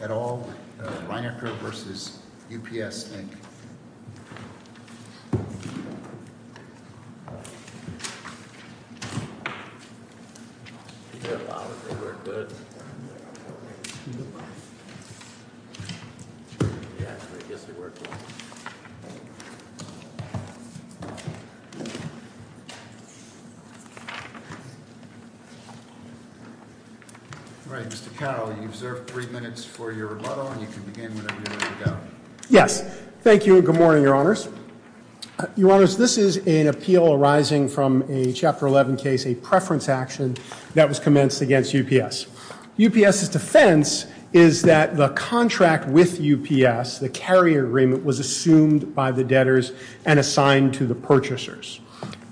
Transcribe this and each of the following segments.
at all, Reinecker v. UPS, Inc. Mr. Carroll, you deserve three minutes for your rebuttal and you can begin whenever you like to go. Yes, thank you and good morning, Your Honors. Your Honors, this is an appeal arising from a Chapter 11 case, a preference action that was commenced against UPS. UPS's defense is that the contract with UPS, the carrier agreement, was assumed by the debtors and assigned to the purchasers.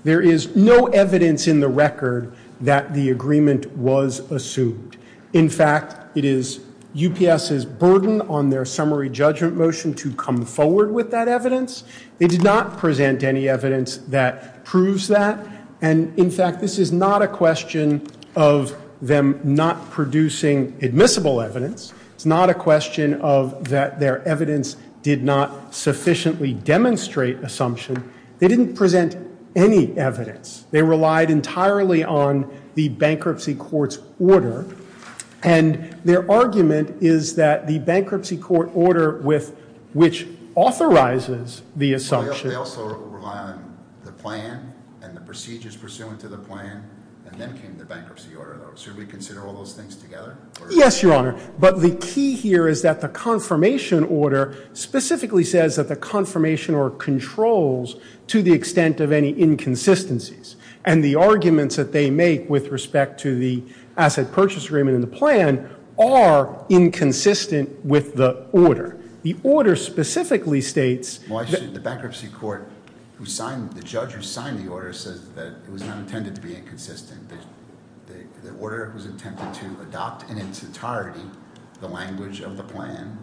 There is no evidence in the record that the agreement was assumed. In fact, it is UPS's burden on their summary judgment motion to come forward with that evidence. They did not present any evidence that proves that. And, in fact, this is not a question of them not producing admissible evidence. It's not a question of that their evidence did not sufficiently demonstrate assumption. They didn't present any evidence. They relied entirely on the bankruptcy court's order. And their argument is that the bankruptcy court order which authorizes the assumption They also rely on the plan and the procedures pursuant to the plan and then came the bankruptcy order. Should we consider all those things together? Yes, Your Honor. But the key here is that the confirmation order specifically says that the confirmation or controls to the extent of any inconsistencies. And the arguments that they make with respect to the asset purchase agreement and the plan are inconsistent with the order. The order specifically states Well, actually, the bankruptcy court, the judge who signed the order, says that it was not intended to be inconsistent. The order was intended to adopt in its entirety the language of the plan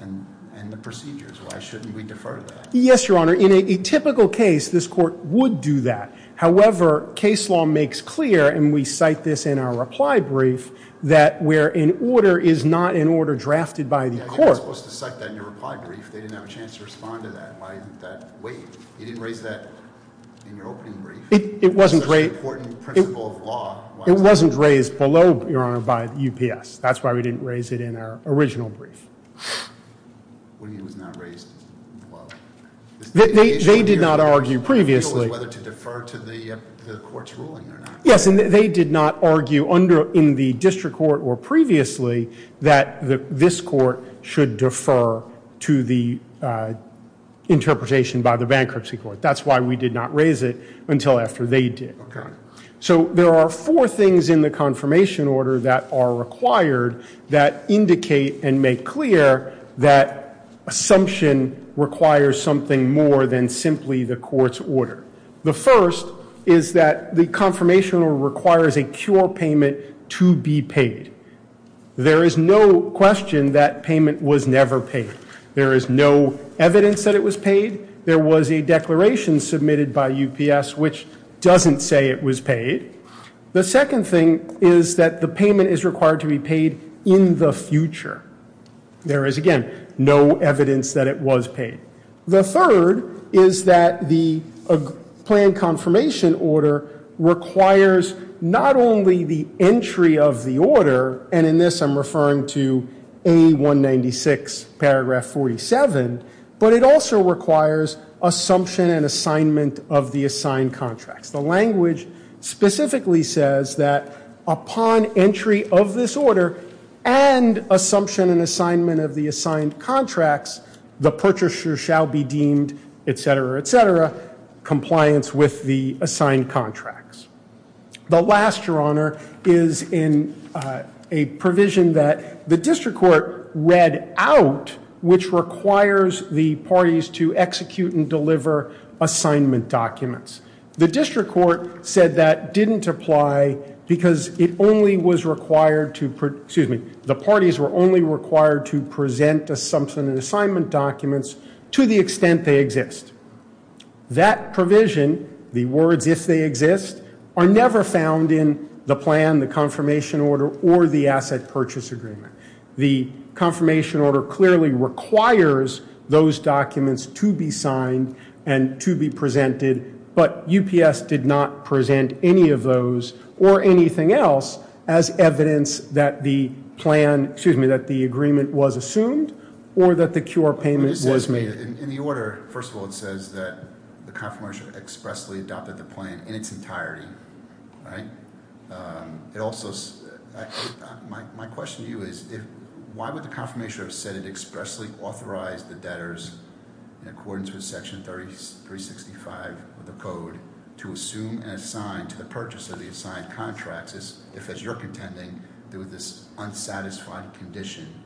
and the procedures. Why shouldn't we defer to that? Yes, Your Honor. In a typical case, this court would do that. However, case law makes clear, and we cite this in our reply brief, that where an order is not an order drafted by the court. You're not supposed to cite that in your reply brief. They didn't have a chance to respond to that. Why isn't that waived? You didn't raise that in your opening brief. It wasn't raised below, Your Honor, by UPS. That's why we didn't raise it in our original brief. What do you mean it was not raised below? They did not argue previously. Whether to defer to the court's ruling or not. Yes, and they did not argue in the district court or previously that this court should defer to the interpretation by the bankruptcy court. That's why we did not raise it until after they did. Okay. So there are four things in the confirmation order that are required that indicate and make clear that assumption requires something more than simply the court's order. The first is that the confirmation order requires a cure payment to be paid. There is no question that payment was never paid. There is no evidence that it was paid. There was a declaration submitted by UPS which doesn't say it was paid. The second thing is that the payment is required to be paid in the future. There is, again, no evidence that it was paid. The third is that the plan confirmation order requires not only the entry of the order, and in this I'm referring to A196 paragraph 47, but it also requires assumption and assignment of the assigned contracts. The language specifically says that upon entry of this order and assumption and assignment of the assigned contracts, the purchaser shall be deemed, et cetera, et cetera, compliance with the assigned contracts. The last, Your Honor, is in a provision that the district court read out which requires the parties to execute and deliver assignment documents. The district court said that didn't apply because it only was required to, excuse me, the parties were only required to present assumption and assignment documents to the extent they exist. That provision, the words if they exist, are never found in the plan, the confirmation order, or the asset purchase agreement. The confirmation order clearly requires those documents to be signed and to be presented, but UPS did not present any of those or anything else as evidence that the plan, excuse me, that the agreement was assumed or that the QR payment was made. In the order, first of all, it says that the confirmation expressly adopted the plan in its entirety, right? It also, my question to you is why would the confirmation have said it expressly authorized the debtors in accordance with Section 365 of the code to assume and assign to the purchase of the assigned contracts if, as you're contending, there was this unsatisfied condition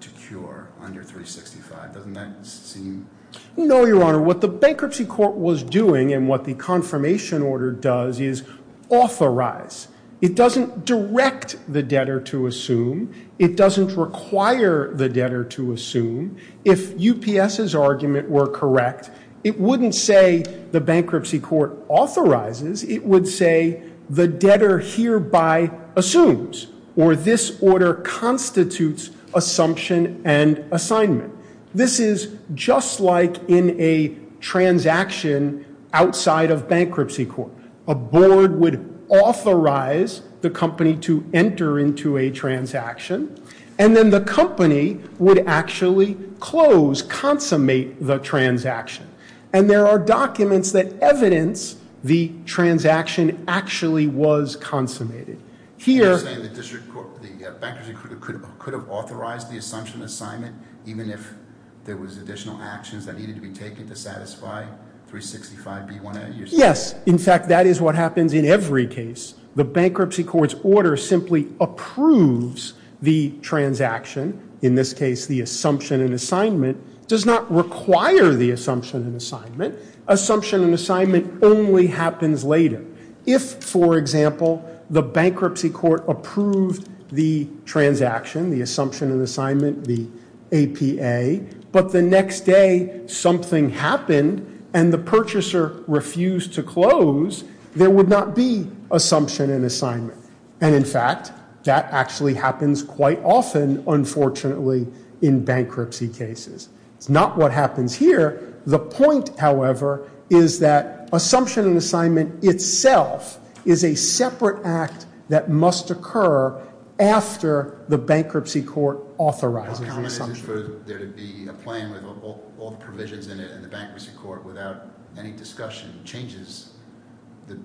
to cure under 365. Doesn't that seem? No, Your Honor. What the bankruptcy court was doing and what the confirmation order does is authorize. It doesn't direct the debtor to assume. It doesn't require the debtor to assume. If UPS's argument were correct, it wouldn't say the bankruptcy court authorizes. It would say the debtor hereby assumes or this order constitutes assumption and assignment. This is just like in a transaction outside of bankruptcy court. A board would authorize the company to enter into a transaction and then the company would actually close, consummate the transaction, and there are documents that evidence the transaction actually was consummated. You're saying the bankruptcy court could have authorized the assumption assignment even if there was additional actions that needed to be taken to satisfy 365B1A? Yes. In fact, that is what happens in every case. The bankruptcy court's order simply approves the transaction. In this case, the assumption and assignment does not require the assumption and assignment. Assumption and assignment only happens later. If, for example, the bankruptcy court approved the transaction, the assumption and assignment, the APA, but the next day something happened and the purchaser refused to close, there would not be assumption and assignment. And in fact, that actually happens quite often, unfortunately, in bankruptcy cases. It's not what happens here. The point, however, is that assumption and assignment itself is a separate act that must occur after the bankruptcy court authorizes the assumption. Would it be a plan with all the provisions in it and the bankruptcy court without any discussion changes the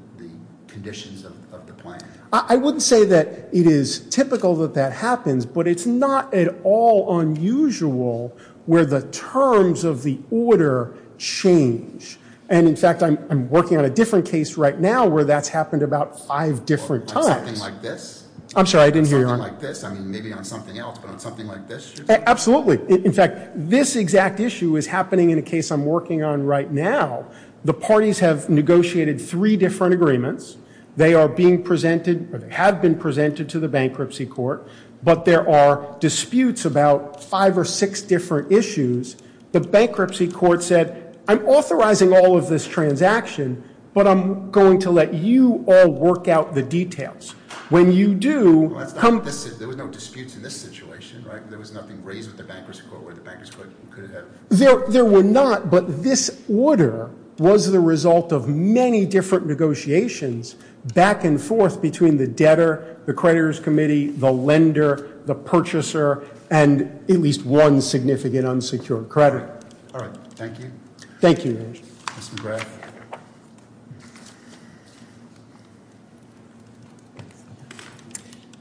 conditions of the plan? I wouldn't say that it is typical that that happens, but it's not at all unusual where the terms of the order change. And in fact, I'm working on a different case right now where that's happened about five different times. On something like this? I'm sorry, I didn't hear you. On something like this? I mean, maybe on something else, but on something like this? Absolutely. In fact, this exact issue is happening in a case I'm working on right now. The parties have negotiated three different agreements. They are being presented or have been presented to the bankruptcy court, but there are disputes about five or six different issues. The bankruptcy court said, I'm authorizing all of this transaction, but I'm going to let you all work out the details. There were no disputes in this situation, right? There was nothing raised with the bankruptcy court where the bankruptcy court could have. There were not, but this order was the result of many different negotiations back and forth between the debtor, the creditors committee, the lender, the purchaser, and at least one significant unsecured creditor. All right. Thank you. Thank you. Ms. McGrath.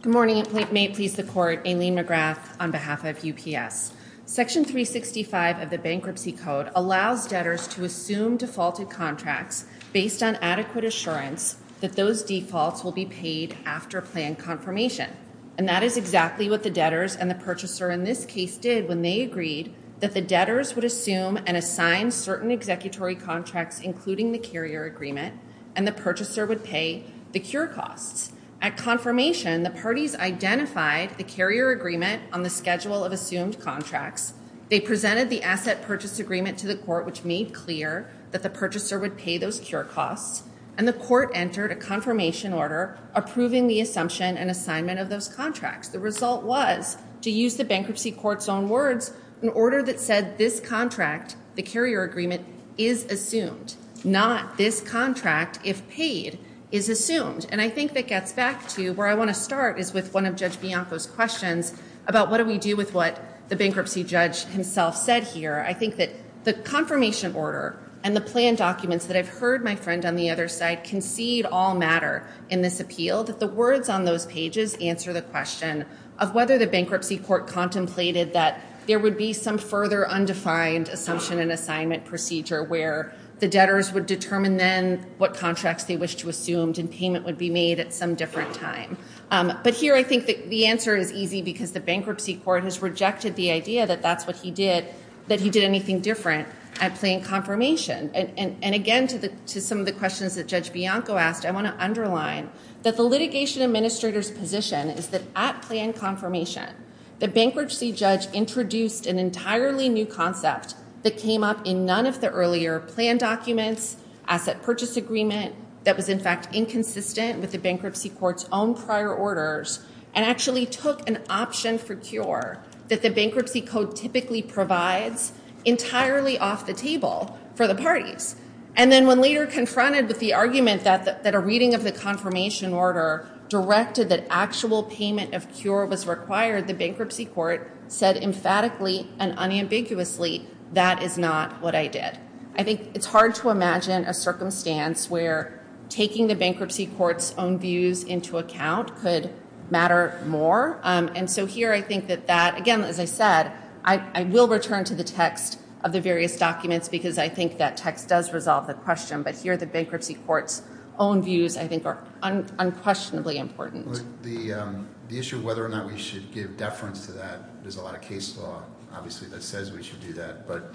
Good morning. May it please the court, Aileen McGrath on behalf of UPS. Section 365 of the bankruptcy code allows debtors to assume defaulted contracts based on adequate assurance that those defaults will be paid after planned confirmation, and that is exactly what the debtors and the purchaser in this case did when they agreed that the debtors would assume and assign certain executory contracts, including the carrier agreement, and the purchaser would pay the cure costs. At confirmation, the parties identified the carrier agreement on the schedule of assumed contracts. They presented the asset purchase agreement to the court, which made clear that the purchaser would pay those cure costs, and the court entered a confirmation order approving the assumption and assignment of those contracts. The result was, to use the bankruptcy court's own words, an order that said this contract, the carrier agreement, is assumed, not this contract, if paid, is assumed. And I think that gets back to where I want to start is with one of Judge Bianco's questions about what do we do with what the bankruptcy judge himself said here. I think that the confirmation order and the plan documents that I've heard my friend on the other side concede all matter in this appeal, that the words on those pages answer the question of whether the bankruptcy court contemplated that there would be some further undefined assumption and assignment procedure where the debtors would determine then what contracts they wish to assume and payment would be made at some different time. But here I think the answer is easy because the bankruptcy court has rejected the idea that that's what he did, that he did anything different at plain confirmation. And again, to some of the questions that Judge Bianco asked, I want to underline that the litigation administrator's position is that at plain confirmation, the bankruptcy judge introduced an entirely new concept that came up in none of the earlier plan documents, asset purchase agreement that was in fact inconsistent with the bankruptcy court's own prior orders and actually took an option for cure that the bankruptcy code typically provides entirely off the table for the parties. And then when later confronted with the argument that a reading of the confirmation order directed that actual payment of cure was required, the bankruptcy court said emphatically and unambiguously, that is not what I did. I think it's hard to imagine a circumstance where taking the bankruptcy court's own views into account could matter more. And so here I think that that, again, as I said, I will return to the text of the various documents because I think that text does resolve the question. But here the bankruptcy court's own views, I think, are unquestionably important. The issue of whether or not we should give deference to that, there's a lot of case law, obviously, that says we should do that. But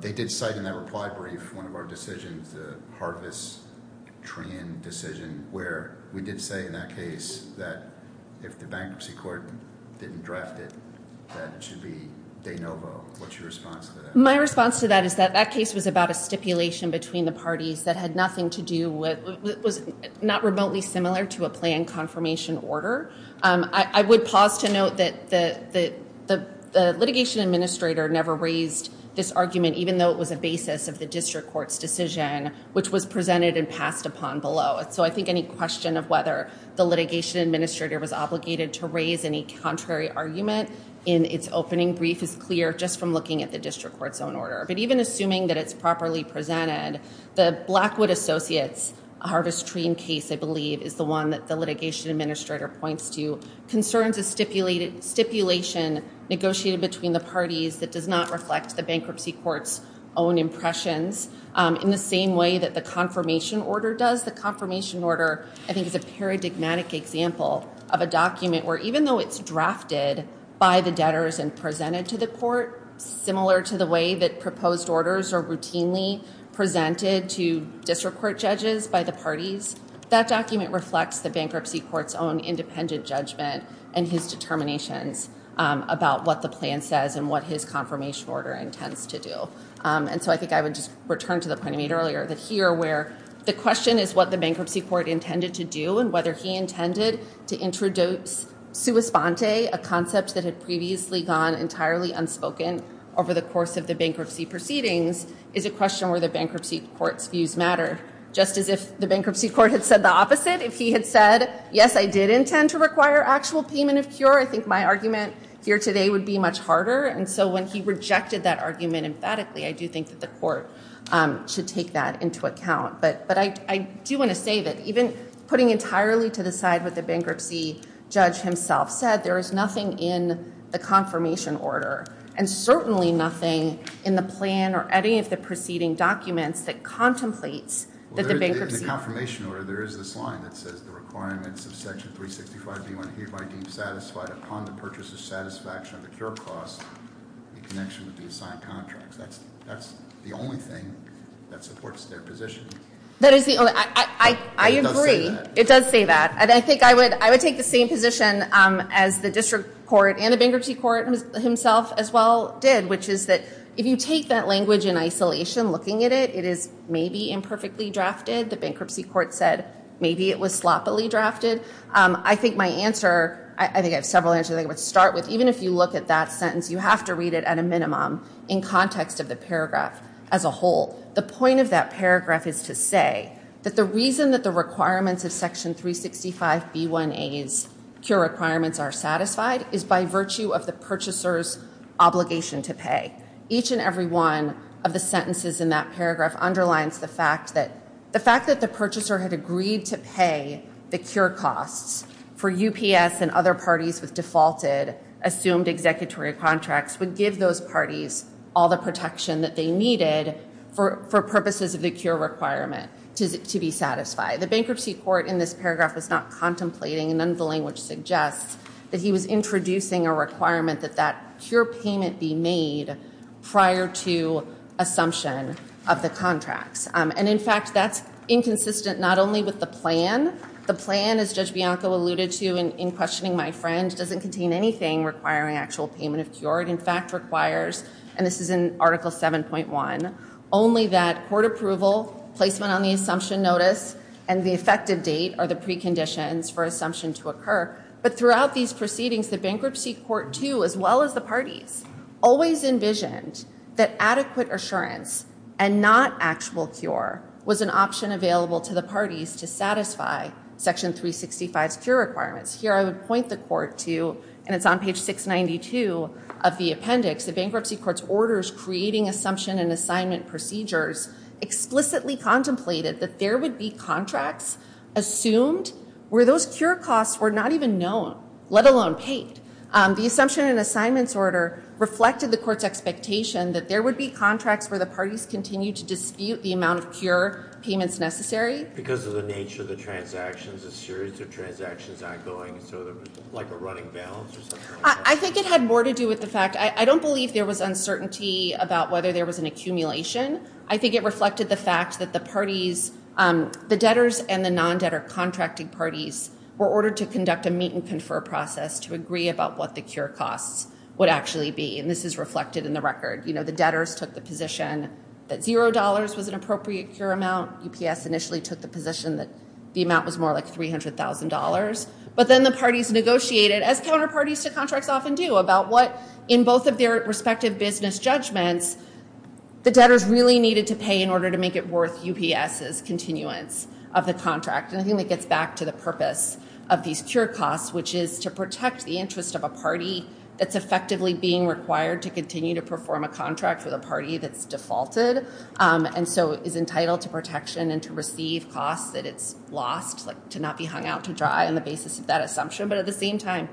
they did cite in that reply brief one of our decisions, the Harvis-Train decision, where we did say in that case that if the bankruptcy court didn't draft it, that it should be de novo. What's your response to that? My response to that is that that case was about a stipulation between the parties that had nothing to do with, was not remotely similar to a planned confirmation order. I would pause to note that the litigation administrator never raised this argument, even though it was a basis of the district court's decision, which was presented and passed upon below. So I think any question of whether the litigation administrator was obligated to raise any contrary argument in its opening brief is clear just from looking at the district court's own order. But even assuming that it's properly presented, the Blackwood Associates Harvis-Train case, I believe, is the one that the litigation administrator points to. Concerns a stipulation negotiated between the parties that does not reflect the bankruptcy court's own impressions. In the same way that the confirmation order does, the confirmation order, I think, is a paradigmatic example of a document where even though it's drafted by the debtors and presented to the court, similar to the way that proposed orders are routinely presented to district court judges by the parties, that document reflects the bankruptcy court's own independent judgment and his determinations about what the plan says and what his confirmation order intends to do. And so I think I would just return to the point I made earlier that here, where the question is what the bankruptcy court intended to do and whether he intended to introduce sua sponte, a concept that had previously gone entirely unspoken over the course of the bankruptcy proceedings, is a question where the bankruptcy court's views matter. Just as if the bankruptcy court had said the opposite, if he had said, yes, I did intend to require actual payment of cure, I think my argument here today would be much harder. And so when he rejected that argument emphatically, I do think that the court should take that into account. But I do want to say that even putting entirely to the side what the bankruptcy judge himself said, there is nothing in the confirmation order, and certainly nothing in the plan or any of the preceding documents that contemplates that the bankruptcy. In the confirmation order, there is this line that says, the requirements of section 365B1 hereby deem satisfied upon the purchase of satisfaction of the cure cost in connection with the assigned contract. That's the only thing that supports their position. That is the only. I agree. It does say that. It does say that. And I think I would take the same position as the district court and the bankruptcy court himself as well did, which is that if you take that language in isolation, looking at it, it is maybe imperfectly drafted. The bankruptcy court said maybe it was sloppily drafted. I think my answer, I think I have several answers I would start with. Even if you look at that sentence, you have to read it at a minimum in context of the paragraph as a whole. The point of that paragraph is to say that the reason that the requirements of section 365B1A's cure requirements are satisfied is by virtue of the purchaser's obligation to pay. Each and every one of the sentences in that paragraph underlines the fact that the purchaser had agreed to pay the cure costs for UPS and other parties with defaulted assumed executory contracts would give those parties all the protection that they needed for purposes of the cure requirement to be satisfied. The bankruptcy court in this paragraph was not contemplating, and none of the language suggests, that he was introducing a requirement that that cure payment be made prior to assumption of the contracts. And in fact, that's inconsistent not only with the plan. The plan, as Judge Bianco alluded to in questioning my friend, doesn't contain anything requiring actual payment of cure. It in fact requires, and this is in Article 7.1, only that court approval, placement on the assumption notice, and the effective date are the preconditions for assumption to occur. But throughout these proceedings, the bankruptcy court, too, as well as the parties, always envisioned that adequate assurance and not actual cure was an option available to the parties to satisfy section 365's cure requirements. Here I would point the court to, and it's on page 692 of the appendix, the bankruptcy court's orders creating assumption and assignment procedures explicitly contemplated that there would be contracts assumed where those cure costs were not even known, let alone paid. The assumption and assignments order reflected the court's expectation that there would be contracts where the parties continued to dispute the amount of cure payments necessary. Because of the nature of the transactions, a series of transactions ongoing, so like a running balance or something like that? I think it had more to do with the fact, I don't believe there was uncertainty about whether there was an accumulation. I think it reflected the fact that the parties, the debtors and the non-debtor contracting parties, were ordered to conduct a meet and confer process to agree about what the cure costs would actually be. And this is reflected in the record. You know, the debtors took the position that $0 was an appropriate cure amount. UPS initially took the position that the amount was more like $300,000. But then the parties negotiated, as counterparties to contracts often do, about what, in both of their respective business judgments, the debtors really needed to pay in order to make it worth UPS's continuance of the contract. And I think that gets back to the purpose of these cure costs, which is to protect the interest of a party that's effectively being required to continue to perform a contract with a party that's defaulted, and so is entitled to protection and to receive costs that it's lost, like to not be hung out to dry on the basis of that assumption. But at the same time,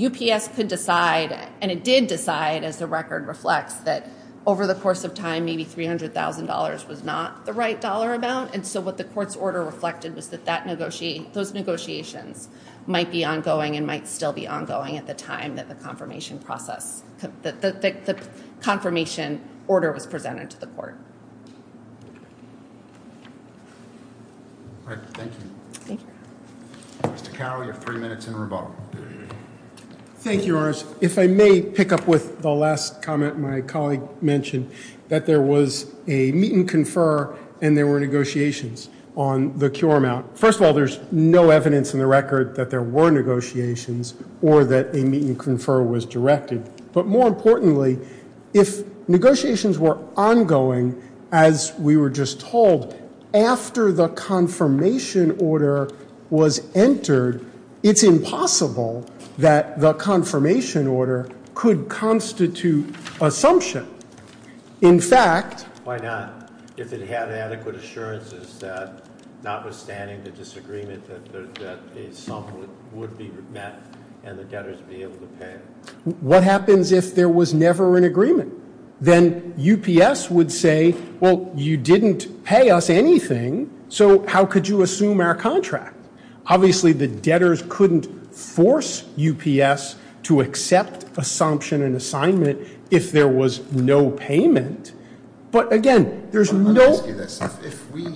UPS could decide, and it did decide, as the record reflects, that over the course of time maybe $300,000 was not the right dollar amount. And so what the court's order reflected was that those negotiations might be ongoing and might still be ongoing at the time that the confirmation order was presented to the court. All right. Thank you. Thank you. Mr. Cowley, you have three minutes in rebuttal. Thank you, Your Honors. If I may pick up with the last comment my colleague mentioned, that there was a meet and confer and there were negotiations on the cure amount. First of all, there's no evidence in the record that there were negotiations or that a meet and confer was directed. But more importantly, if negotiations were ongoing, as we were just told, after the confirmation order was entered, it's impossible that the confirmation order could constitute assumption. In fact... Why not? If it had adequate assurances that notwithstanding the disagreement that a sum would be met and the debtors be able to pay. What happens if there was never an agreement? Then UPS would say, well, you didn't pay us anything. So how could you assume our contract? Obviously, the debtors couldn't force UPS to accept assumption and assignment if there was no payment. But again, there's no... Let me ask you this. If we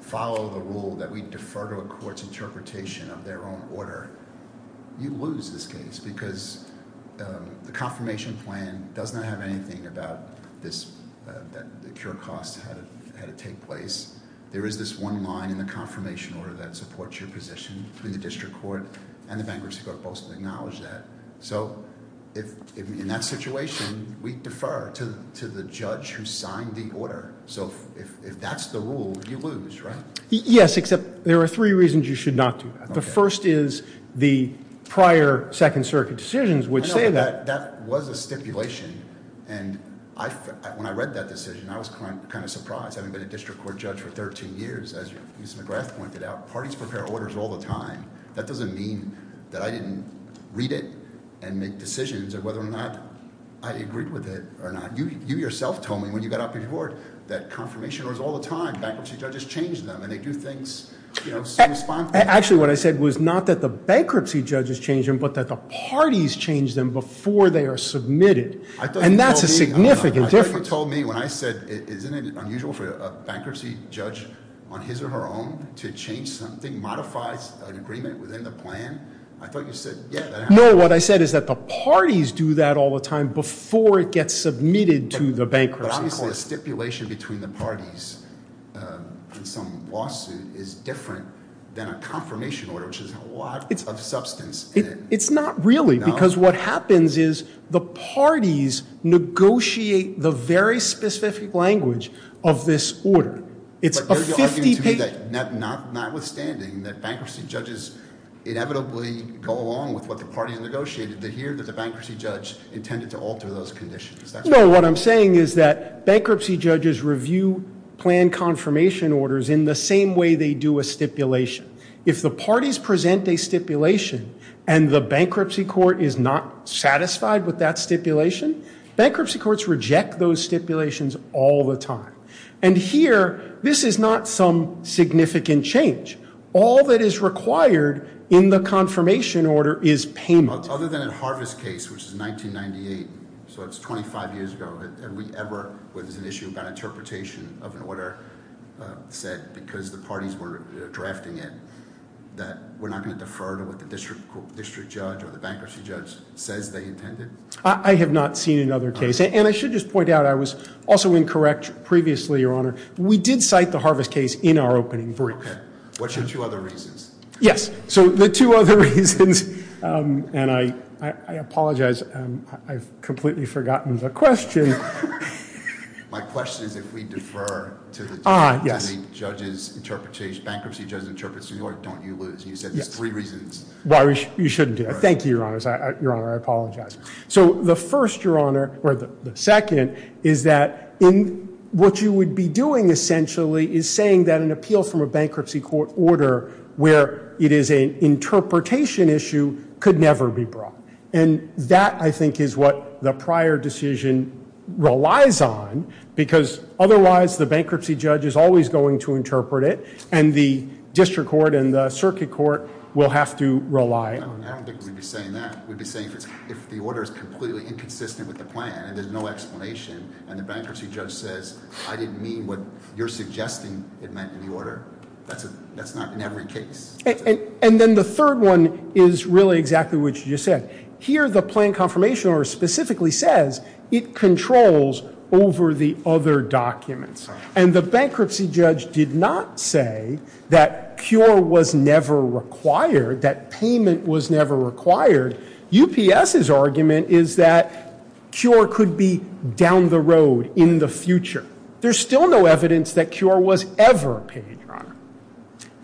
follow the rule that we defer to a court's interpretation of their own order, you lose this case because the confirmation plan does not have anything about the cure costs, how to take place. There is this one line in the confirmation order that supports your position in the district court and the bankruptcy court both acknowledge that. So in that situation, we defer to the judge who signed the order. So if that's the rule, you lose, right? Yes, except there are three reasons you should not do that. The first is the prior Second Circuit decisions would say that. I know, but that was a stipulation, and when I read that decision, I was kind of surprised having been a district court judge for 13 years. As Ms. McGrath pointed out, parties prepare orders all the time. That doesn't mean that I didn't read it and make decisions of whether or not I agreed with it or not. You yourself told me when you got up in court that confirmation orders all the time. Bankruptcy judges change them, and they do things, you know, so responsible. Actually, what I said was not that the bankruptcy judges change them, but that the parties change them before they are submitted, and that's a significant difference. I thought you told me when I said, isn't it unusual for a bankruptcy judge on his or her own to change something, modify an agreement within the plan? I thought you said, yeah, that happens. No, what I said is that the parties do that all the time before it gets submitted to the bankruptcy court. Obviously, a stipulation between the parties in some lawsuit is different than a confirmation order, which has a lot of substance in it. It's not really, because what happens is the parties negotiate the very specific language of this order. But you're arguing to me that notwithstanding that bankruptcy judges inevitably go along with what the parties negotiated, they hear that the bankruptcy judge intended to alter those conditions. No, what I'm saying is that bankruptcy judges review plan confirmation orders in the same way they do a stipulation. If the parties present a stipulation and the bankruptcy court is not satisfied with that stipulation, bankruptcy courts reject those stipulations all the time. And here, this is not some significant change. All that is required in the confirmation order is payment. Other than in Harvard's case, which is 1998, so it's 25 years ago, have we ever, where there's an issue about interpretation of an order set because the parties were drafting it, that we're not going to defer to what the district judge or the bankruptcy judge says they intended? I have not seen another case. And I should just point out I was also incorrect previously, Your Honor. We did cite the Harvest case in our opening brief. Okay. What's your two other reasons? Yes, so the two other reasons, and I apologize. I've completely forgotten the question. My question is if we defer to the judge, and the bankruptcy judge interprets the order, don't you lose? You said there's three reasons. Well, you shouldn't do that. Thank you, Your Honor. Your Honor, I apologize. So the first, Your Honor, or the second, is that what you would be doing essentially is saying that an appeal from a bankruptcy court order where it is an interpretation issue could never be brought. And that, I think, is what the prior decision relies on because otherwise the bankruptcy judge is always going to interpret it, and the district court and the circuit court will have to rely. I don't think we'd be saying that. We'd be saying if the order is completely inconsistent with the plan and there's no explanation, and the bankruptcy judge says I didn't mean what you're suggesting it meant in the order, that's not in every case. And then the third one is really exactly what you just said. Here the plan confirmation order specifically says it controls over the other documents, and the bankruptcy judge did not say that cure was never required, that payment was never required. UPS's argument is that cure could be down the road in the future. There's still no evidence that cure was ever paid, Your Honor.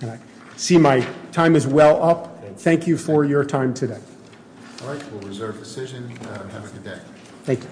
I see my time is well up. Thank you for your time today. All right. We'll reserve decision. Have a good day. Thank you.